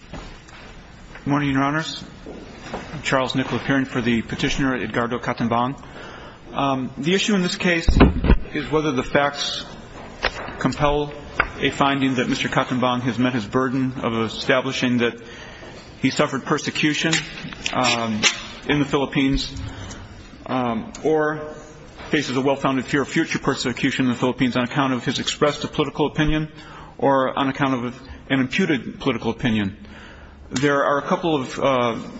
Good morning, Your Honors. I'm Charles Nicola Perin for the petitioner, Edgardo Catimbang. The issue in this case is whether the facts compel a finding that Mr. Catimbang has met his burden of establishing that he suffered persecution in the Philippines or faces a well-founded fear of future persecution in the Philippines on account of his expressed political opinion or on account of an imputed political opinion. There are a couple of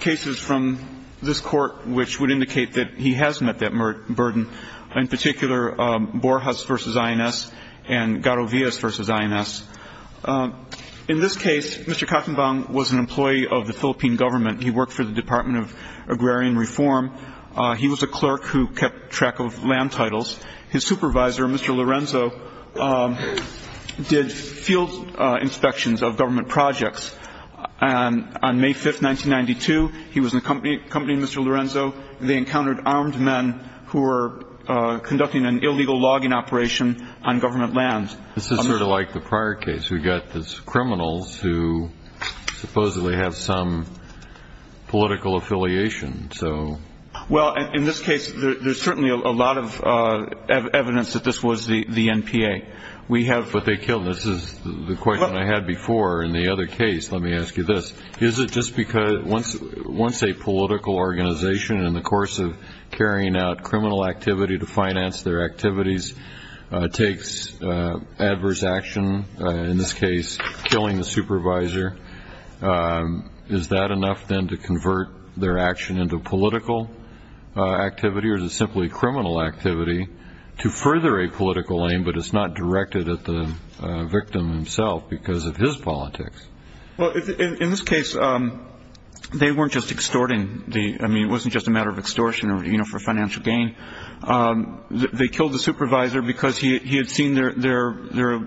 cases from this court which would indicate that he has met that burden, in particular Borjas v. INS and Garavillas v. INS. In this case, Mr. Catimbang was an employee of the Philippine government. He worked for the Department of Agrarian Reform. He was a clerk who kept track of land titles. His supervisor, Mr. Lorenzo, did field inspections of government projects. And on May 5, 1992, he was accompanying Mr. Lorenzo. They encountered armed men who were conducting an illegal logging operation on government lands. This is sort of like the prior case. We've got these criminals who supposedly have some political affiliation. Well, in this case, there's certainly a lot of evidence that this was the NPA. But they killed him. This is the question I had before in the other case. Let me ask you this. Is it just because once a political organization, in the course of carrying out criminal activity to finance their activities, takes adverse action, in this case killing the supervisor, is that enough then to convert their action into political activity? Or is it simply criminal activity to further a political aim, but it's not directed at the victim himself because of his politics? Well, in this case, they weren't just extorting the – I mean, it wasn't just a matter of extortion, you know, for financial gain. They killed the supervisor because he had seen their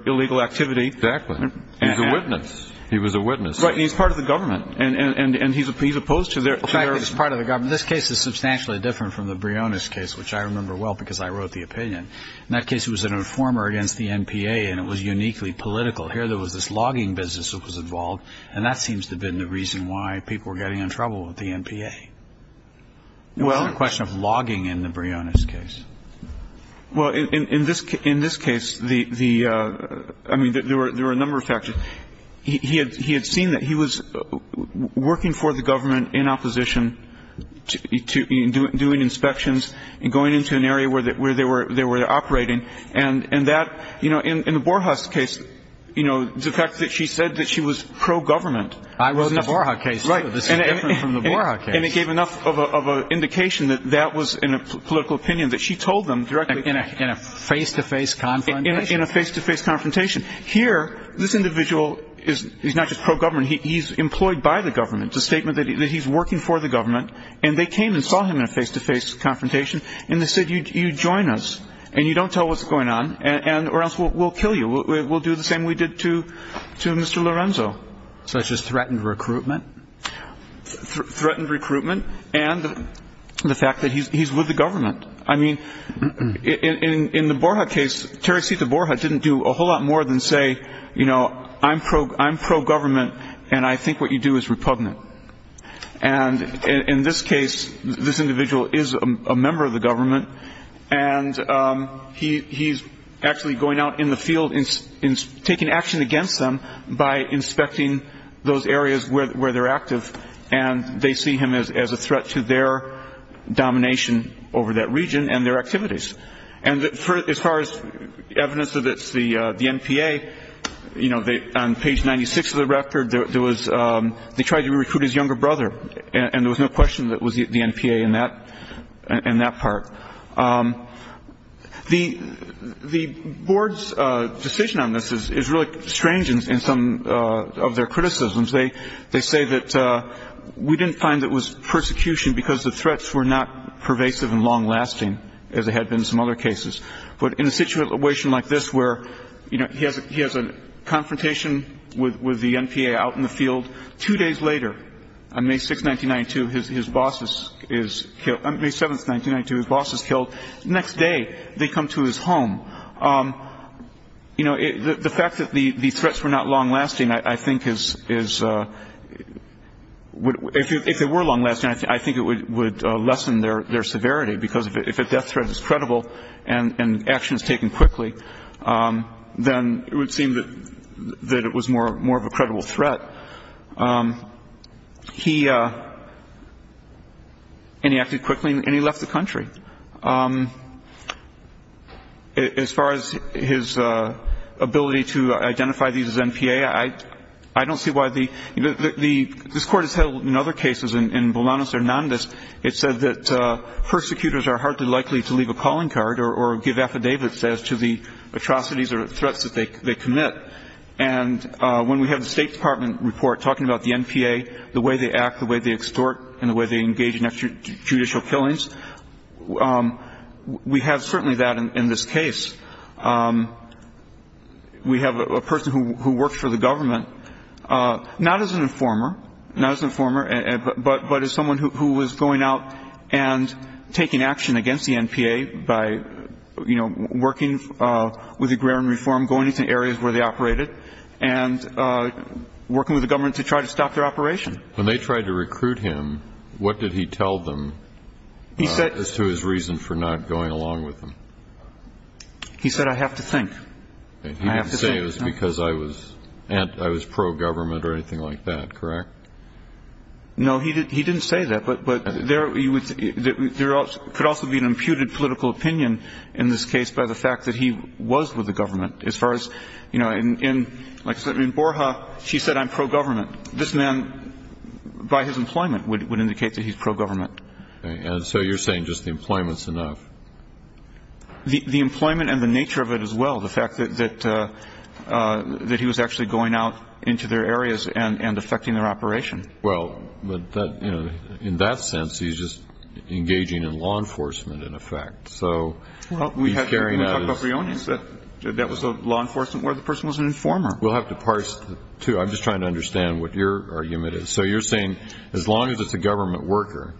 illegal activity. Exactly. He was a witness. He was a witness. Right. And he's part of the government. And he's opposed to their – In fact, he's part of the government. This case is substantially different from the Briones case, which I remember well because I wrote the opinion. In that case, it was an informer against the NPA, and it was uniquely political. Here there was this logging business that was involved, and that seems to have been the reason why people were getting in trouble with the NPA. It was a question of logging in the Briones case. Well, in this case, the – I mean, there were a number of factors. He had seen that he was working for the government in opposition, doing inspections and going into an area where they were operating. And that – you know, in the Borjas case, you know, the fact that she said that she was pro-government. I wrote in the Borjas case, too. This is different from the Borjas case. And it gave enough of an indication that that was a political opinion that she told them directly. In a face-to-face confrontation? In a face-to-face confrontation. Here, this individual is not just pro-government. He's employed by the government. It's a statement that he's working for the government. And they came and saw him in a face-to-face confrontation, and they said, You join us, and you don't tell what's going on, or else we'll kill you. We'll do the same we did to Mr. Lorenzo. Such as threatened recruitment? Threatened recruitment and the fact that he's with the government. I mean, in the Borja case, Teresita Borja didn't do a whole lot more than say, you know, I'm pro-government, and I think what you do is repugnant. And in this case, this individual is a member of the government, and he's actually going out in the field and taking action against them by inspecting those areas where they're active. And they see him as a threat to their domination over that region and their activities. And as far as evidence that it's the NPA, you know, on page 96 of the record, they tried to recruit his younger brother, and there was no question that it was the NPA in that part. The board's decision on this is really strange in some of their criticisms. They say that we didn't find that it was persecution because the threats were not pervasive and long-lasting, as they had been in some other cases. But in a situation like this where, you know, he has a confrontation with the NPA out in the field, two days later, on May 6th, 1992, his boss is killed. On May 7th, 1992, his boss is killed. The next day, they come to his home. You know, the fact that the threats were not long-lasting, I think is ‑‑ if they were long-lasting, I think it would lessen their severity because if a death threat is credible and action is taken quickly, then it would seem that it was more of a credible threat. He ‑‑ and he acted quickly, and he left the country. As far as his ability to identify these as NPA, I don't see why the ‑‑ this Court has held in other cases, in Bolanos Hernandez, it said that persecutors are hardly likely to leave a calling card or give affidavits as to the atrocities or threats that they commit. And when we have the State Department report talking about the NPA, the way they act, the way they extort, and the way they engage in extrajudicial killings, we have certainly that in this case. We have a person who works for the government, not as an informer, not as an informer, but as someone who was going out and taking action against the NPA by, you know, working with agrarian reform, going into areas where they operated, and working with the government to try to stop their operation. When they tried to recruit him, what did he tell them as to his reason for not going along with them? He said, I have to think. He didn't say it was because I was pro‑government or anything like that, correct? No, he didn't say that. But there could also be an imputed political opinion in this case by the fact that he was with the government. As far as, you know, in Borja, she said, I'm pro‑government. This man, by his employment, would indicate that he's pro‑government. And so you're saying just the employment's enough? The employment and the nature of it as well, the fact that he was actually going out into their areas and affecting their operation. Well, but, you know, in that sense, he's just engaging in law enforcement, in effect. So he's carrying out his ‑‑ We talked about Briones. That was law enforcement where the person was an informer. We'll have to parse that, too. I'm just trying to understand what your argument is. So you're saying as long as it's a government worker,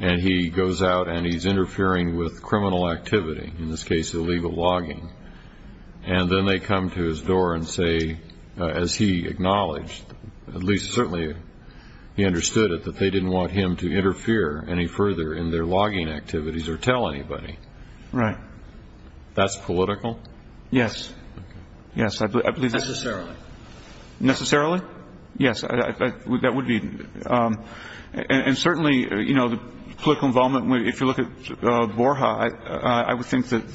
and he goes out and he's interfering with criminal activity, in this case illegal logging, and then they come to his door and say, as he acknowledged, at least certainly he understood it, that they didn't want him to interfere any further in their logging activities or tell anybody. Right. That's political? Yes. Okay. Yes, I believe that. Necessarily. Necessarily? Yes, that would be. And certainly, you know, the political involvement, if you look at Borja, I would think that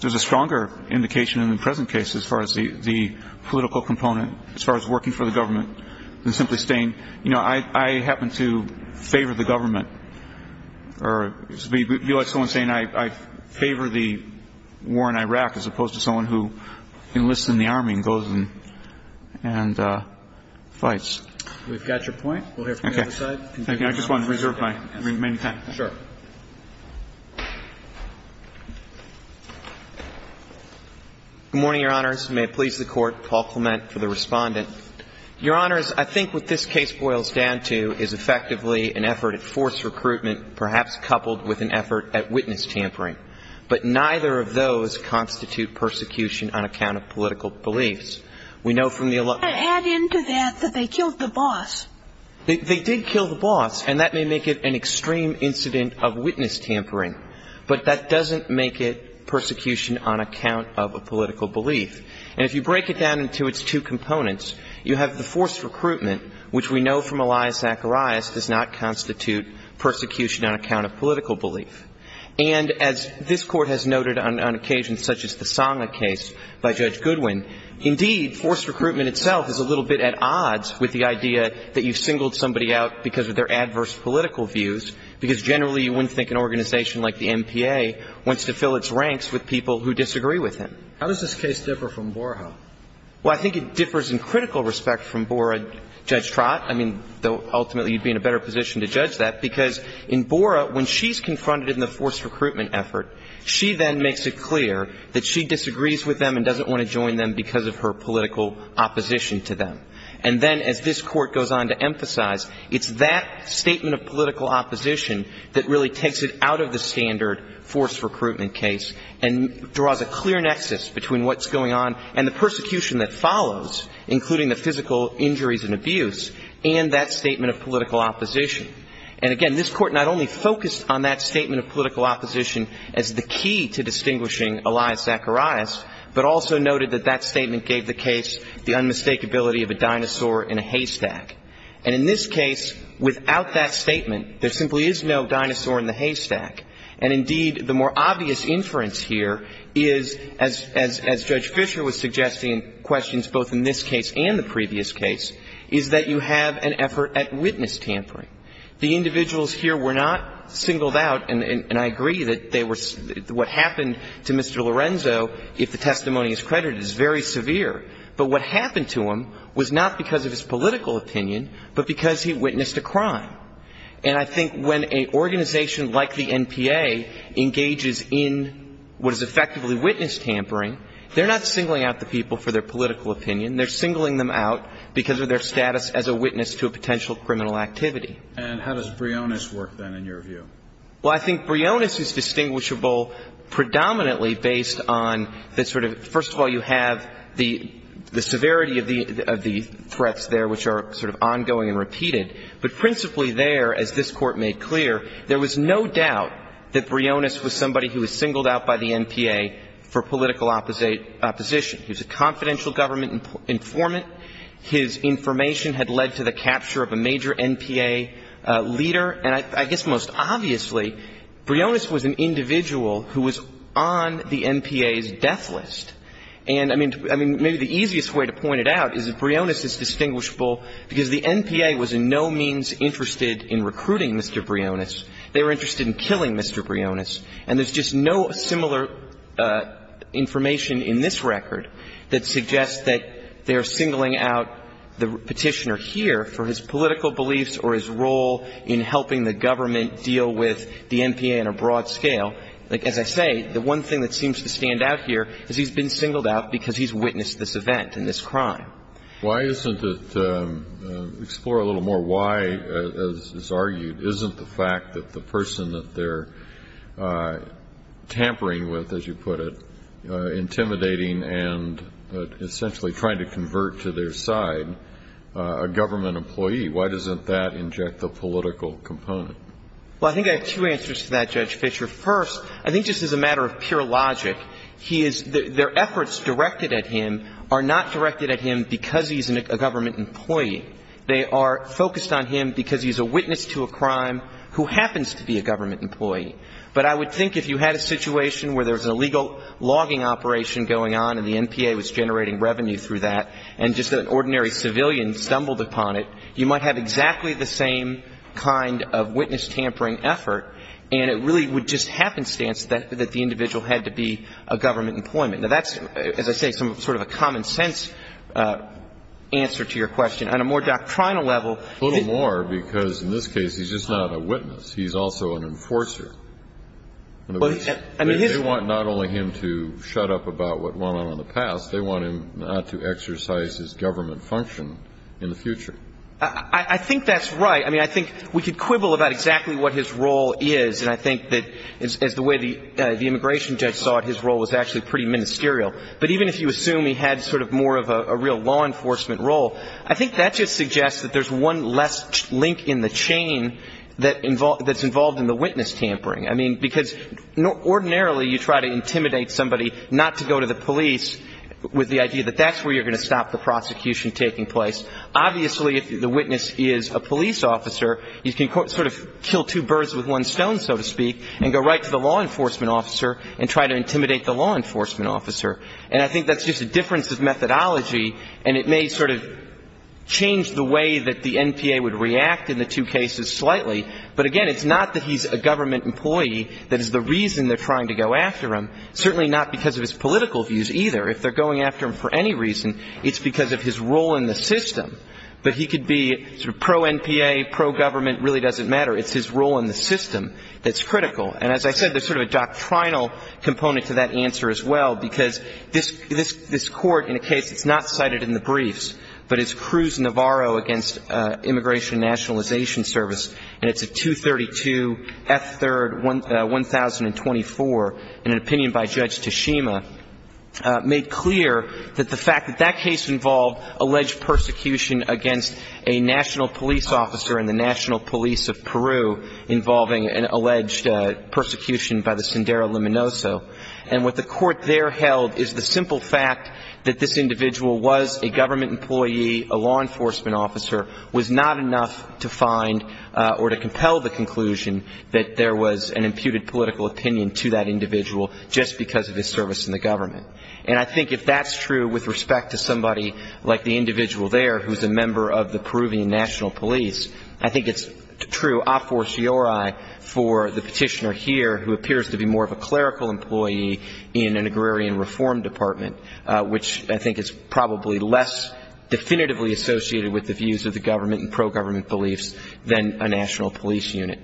there's a stronger indication in the present case as far as the political component, as far as working for the government than simply saying, you know, I happen to favor the government. It would be like someone saying I favor the war in Iraq as opposed to someone who enlists in the Army and goes and fights. We've got your point. We'll hear from the other side. Okay. Thank you. I just want to reserve my remaining time. Sure. Good morning, Your Honors. May it please the Court. Paul Clement for the Respondent. Your Honors, I think what this case boils down to is effectively an effort at forced recruitment, perhaps coupled with an effort at witness tampering. But neither of those constitute persecution on account of political beliefs. We know from the ---- Add into that that they killed the boss. They did kill the boss, and that may make it an extreme incident of witness tampering. But that doesn't make it persecution on account of a political belief. And if you break it down into its two components, you have the forced recruitment, which we know from Elias Zacharias does not constitute persecution on account of political belief. And as this Court has noted on occasions such as the Sangha case by Judge Goodwin, indeed forced recruitment itself is a little bit at odds with the idea that you've singled somebody out because of their adverse political views, because generally you wouldn't think an organization like the MPA wants to fill its ranks with people who disagree with him. How does this case differ from Boraho? Well, I think it differs in critical respect from Bora, Judge Trott. I mean, though ultimately you'd be in a better position to judge that, because in Bora, when she's confronted in the forced recruitment effort, she then makes it clear that she disagrees with them and doesn't want to join them because of her political opposition to them. And then as this Court goes on to emphasize, it's that statement of political opposition that really takes it out of the standard forced recruitment case and draws a clear nexus between what's going on and the persecution that follows, including the physical injuries and abuse, and that statement of political opposition. And again, this Court not only focused on that statement of political opposition as the key to distinguishing Elias Zacharias, but also noted that that statement gave the case the unmistakability of a dinosaur in a haystack. And in this case, without that statement, there simply is no dinosaur in the haystack. And indeed, the more obvious inference here is, as Judge Fisher was suggesting in questions both in this case and the previous case, is that you have an effort at witness tampering. The individuals here were not singled out. And I agree that they were — what happened to Mr. Lorenzo, if the testimony is credited, is very severe. But what happened to him was not because of his political opinion, but because he witnessed a crime. And I think when an organization like the NPA engages in what is effectively witness tampering, they're not singling out the people for their political opinion. They're singling them out because of their status as a witness to a potential criminal activity. And how does Brionis work, then, in your view? Well, I think Brionis is distinguishable predominantly based on the sort of — first of all, you have the severity of the threats there, which are sort of ongoing and repeated. But principally there, as this Court made clear, there was no doubt that Brionis was somebody who was singled out by the NPA for political opposition. He was a confidential government informant. His information had led to the capture of a major NPA leader. And I guess most obviously, Brionis was an individual who was on the NPA's death list. And, I mean, maybe the easiest way to point it out is that Brionis is distinguishable because the NPA was in no means interested in recruiting Mr. Brionis. They were interested in killing Mr. Brionis. And there's just no similar information in this record that suggests that they're singling out the Petitioner here for his political beliefs or his role in helping the government deal with the NPA on a broad scale. Like, as I say, the one thing that seems to stand out here is he's been singled out because he's witnessed this event and this crime. Why isn't it — explore a little more why, as is argued, isn't the fact that the person that they're tampering with, as you put it, intimidating and essentially trying to convert to their side a government employee, why doesn't that inject the political component? Well, I think I have two answers to that, Judge Fischer. First, I think just as a matter of pure logic, he is — their efforts directed at him are not directed at him because he's a government employee. They are focused on him because he's a witness to a crime who happens to be a government employee. But I would think if you had a situation where there was a legal logging operation going on and the NPA was generating revenue through that, and just an ordinary civilian stumbled upon it, you might have exactly the same kind of witness tampering effort, and it really would just happenstance that the individual had to be a government employment. Now, that's, as I say, sort of a common-sense answer to your question. On a more doctrinal level — A little more, because in this case, he's just not a witness. He's also an enforcer. In other words, they want not only him to shut up about what went on in the past, they want him not to exercise his government function in the future. I think that's right. I mean, I think we could quibble about exactly what his role is, and I think that as the way the immigration judge saw it, his role was actually pretty ministerial. But even if you assume he had sort of more of a real law enforcement role, I think that just suggests that there's one less link in the chain that's involved in the witness tampering. I mean, because ordinarily you try to intimidate somebody not to go to the police with the idea that that's where you're going to stop the prosecution taking place. Obviously, if the witness is a police officer, you can sort of kill two birds with one stone, so to speak, and go right to the law enforcement officer and try to intimidate the law enforcement officer. And I think that's just a difference of methodology, and it may sort of change the way that the NPA would react in the two cases slightly. But again, it's not that he's a government employee that is the reason they're trying to go after him, certainly not because of his political views either. If they're going after him for any reason, it's because of his role in the system. But he could be sort of pro-NPA, pro-government, really doesn't matter. It's his role in the system that's critical. And as I said, there's sort of a doctrinal component to that answer as well, because this court, in a case that's not cited in the briefs, but it's Cruz-Navarro against Immigration and Nationalization Service, and it's a 232 F. 3rd, 1024, in an opinion by Judge Tashima, made clear that the fact that that case involved alleged persecution against a national police officer and the national police of Peru involving an alleged persecution by the Sendero Luminoso, and what the court there held is the simple fact that this individual was a government employee, a law enforcement officer, was not enough to find or to compel the conclusion that there was an imputed political opinion to that individual just because of his service in the government. And I think if that's true with respect to somebody like the individual there who's a member of the Peruvian National Police, I think it's true a forciore for the Department, which I think is probably less definitively associated with the views of the government and pro-government beliefs than a national police unit.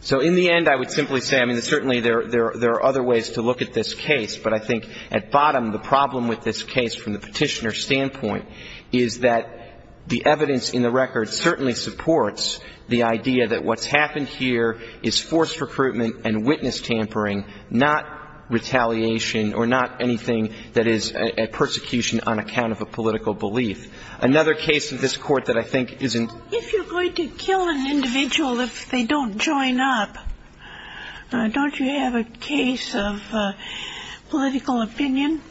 So in the end, I would simply say, I mean, certainly there are other ways to look at this case, but I think at bottom, the problem with this case from the petitioner's standpoint is that the evidence in the record certainly supports the idea that what's is a persecution on account of a political belief. Another case of this Court that I think isn't ---- If you're going to kill an individual if they don't join up, don't you have a case of political opinion?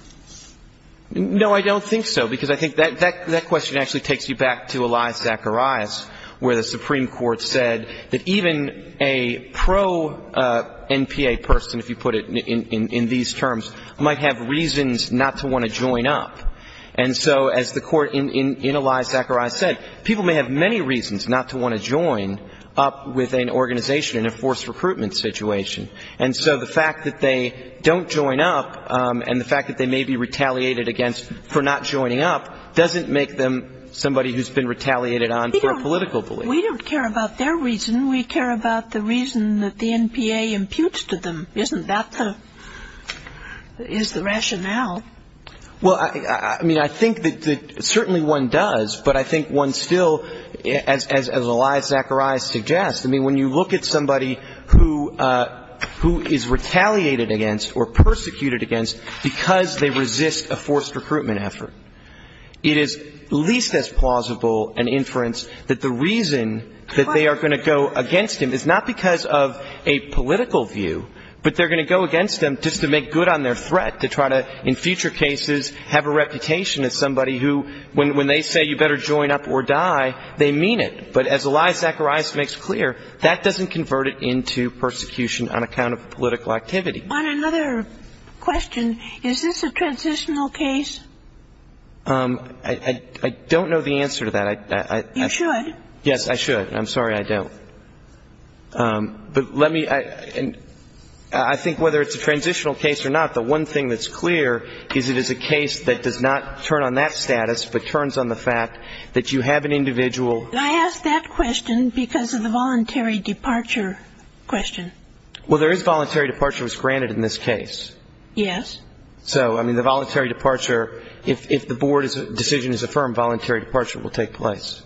No, I don't think so, because I think that question actually takes you back to Eli Zacharias, where the Supreme Court said that even a pro-NPA person, if you put it in these terms, might have reasons not to want to join up. And so as the Court in Eli Zacharias said, people may have many reasons not to want to join up with an organization in a forced recruitment situation. And so the fact that they don't join up and the fact that they may be retaliated against for not joining up doesn't make them somebody who's been retaliated on for a political belief. We don't care about their reason. We care about the reason that the NPA imputes to them. Isn't that the ---- is the rationale? Well, I mean, I think that certainly one does, but I think one still, as Eli Zacharias suggests, I mean, when you look at somebody who is retaliated against or persecuted against because they resist a forced recruitment effort, it is least as plausible an inference that the reason that they are going to go against him is not because of a political view, but they're going to go against him just to make good on their threat, to try to in future cases have a reputation as somebody who when they say you better join up or die, they mean it. But as Eli Zacharias makes clear, that doesn't convert it into persecution on account of political activity. On another question, is this a transitional case? I don't know the answer to that. You should. Yes, I should. I'm sorry I don't. But let me ---- I think whether it's a transitional case or not, the one thing that's clear is it is a case that does not turn on that status, but turns on the fact that you have an individual ---- I asked that question because of the voluntary departure question. Well, there is voluntary departure that's granted in this case. Yes. So, I mean, the voluntary departure, if the board's decision is affirmed, voluntary departure will take place.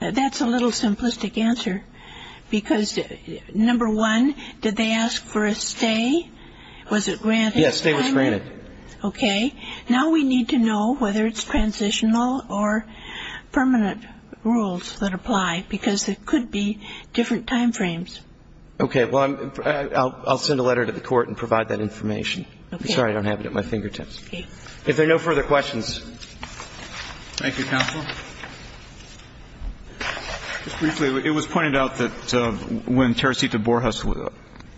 That's a little simplistic answer, because number one, did they ask for a stay? Was it granted? Yes, stay was granted. Okay. Now we need to know whether it's transitional or permanent rules that apply, because there could be different time frames. Okay. Well, I'll send a letter to the court and provide that information. Okay. I'm sorry I don't have it at my fingertips. Okay. If there are no further questions. Thank you, counsel. Just briefly, it was pointed out that when Teresita Borjas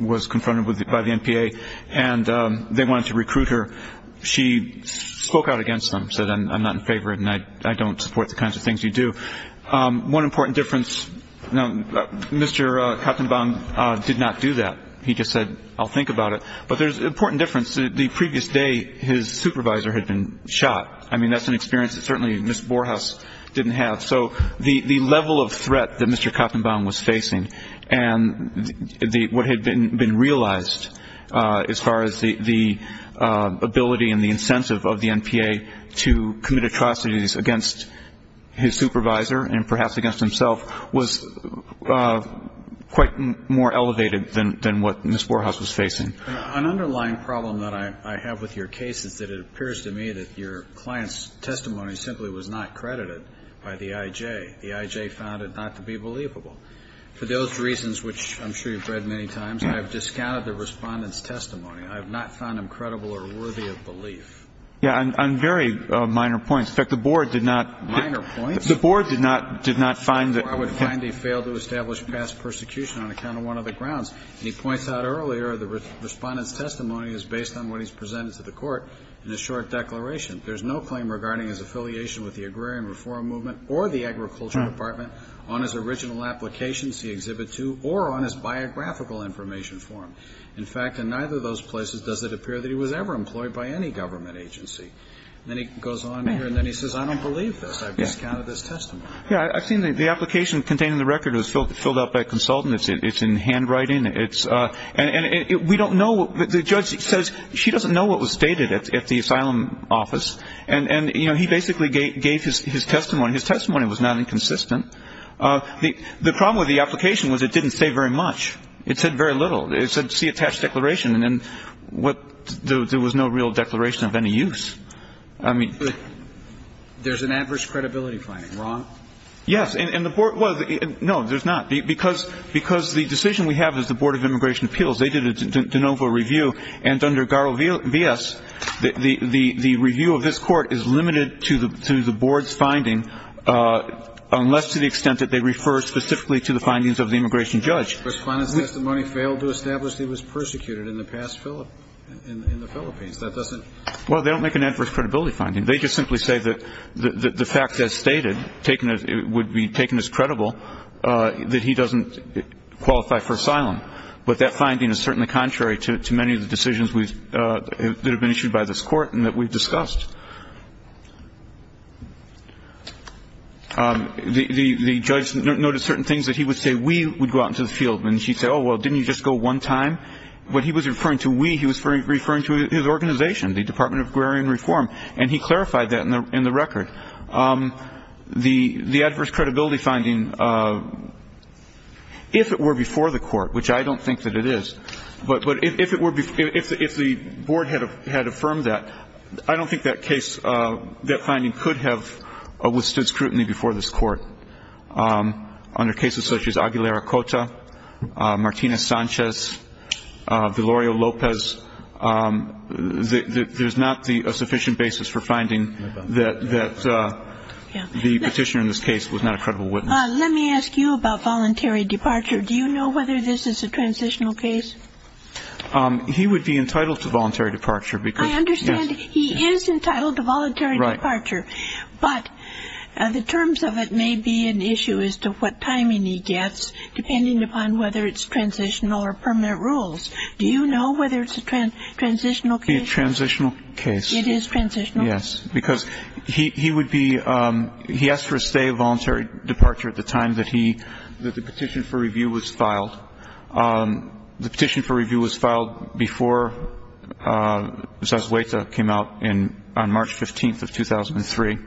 was confronted by the NPA and they wanted to recruit her, she spoke out against them, said I'm not in favor and I don't support the kinds of things you do. One important difference, Mr. Kottenbaum did not do that. He just said I'll think about it. But there's an important difference. The previous day his supervisor had been shot. I mean, that's an experience that certainly Ms. Borjas didn't have. So the level of threat that Mr. Kottenbaum was facing and what had been realized as far as the ability and the incentive of the NPA to commit atrocities against his supervisor and perhaps against himself was quite more elevated than what Ms. Borjas was facing. An underlying problem that I have with your case is that it appears to me that your client's testimony simply was not credited by the IJ. The IJ found it not to be believable. For those reasons, which I'm sure you've read many times, I have discounted the Respondent's testimony. I have not found him credible or worthy of belief. Yeah, on very minor points. In fact, the Board did not. Minor points? The Board did not find that. Or I would find he failed to establish past persecution on account of one of the grounds. And he points out earlier the Respondent's testimony is based on what he's presented to the court in his short declaration. There's no claim regarding his affiliation with the agrarian reform movement or the agriculture department on his original applications, the Exhibit 2, or on his biographical information form. In fact, in neither of those places does it appear that he was ever employed by any government agency. Then he goes on here and then he says, I don't believe this. I've discounted his testimony. Yeah, I've seen the application containing the record. It was filled out by a consultant. It's in handwriting. And we don't know. The judge says she doesn't know what was stated at the asylum office. And, you know, he basically gave his testimony. His testimony was not inconsistent. The problem with the application was it didn't say very much. It said very little. It said see attached declaration. And what there was no real declaration of any use. I mean. There's an adverse credibility finding. Wrong? Yes. And the board was. No, there's not. Because the decision we have is the Board of Immigration Appeals. They did a de novo review. And under Garland v. S., the review of this Court is limited to the board's finding, unless to the extent that they refer specifically to the findings of the immigration judge. But if the judge was fine in the sense that the money failed to establish that he was persecuted in the past in the Philippines, that doesn't. Well, they don't make an adverse credibility finding. They just simply say that the facts as stated would be taken as credible, that he doesn't qualify for asylum. But that finding is certainly contrary to many of the decisions that have been issued by this Court and that we've discussed. The judge noted certain things that he would say we would go out into the field. And she said, oh, well, didn't you just go one time? What he was referring to, we, he was referring to his organization, the Department of Agrarian Reform. And he clarified that in the record. The adverse credibility finding, if it were before the Court, which I don't think that it is, but if it were before, if the board had affirmed that, I don't think that case, that finding could have withstood scrutiny before this Court. Under cases such as Aguilar-Acota, Martinez-Sanchez, Delorio-Lopez, there's not a sufficient basis for finding that the petitioner in this case was not a credible witness. Let me ask you about voluntary departure. Do you know whether this is a transitional case? He would be entitled to voluntary departure because, yes. I understand he is entitled to voluntary departure. Right. But the terms of it may be an issue as to what timing he gets, depending upon whether it's transitional or permanent rules. Do you know whether it's a transitional case? It's a transitional case. It is transitional? Yes. Because he would be, he asked for a stay of voluntary departure at the time that he, that the petition for review was filed. The petition for review was filed before Zazueta came out on March 15th of 2003.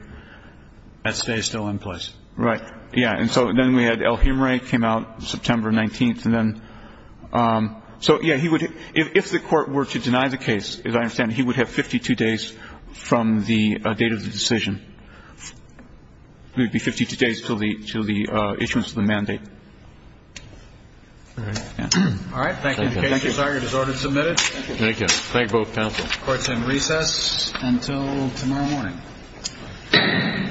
That stay is still in place. Right. Yeah. And so then we had El Jimre came out September 19th, and then, so, yeah, he would, if the Court were to deny the case, as I understand, he would have 52 days from the date of the decision. He would be 52 days until the issuance of the mandate. All right. All right. Thank you. Thank you. Thank you. Thank you. Thank you. Thank you. Thank you both counsel. Court is in recess until tomorrow morning. Thank you. Thank you. Thank you.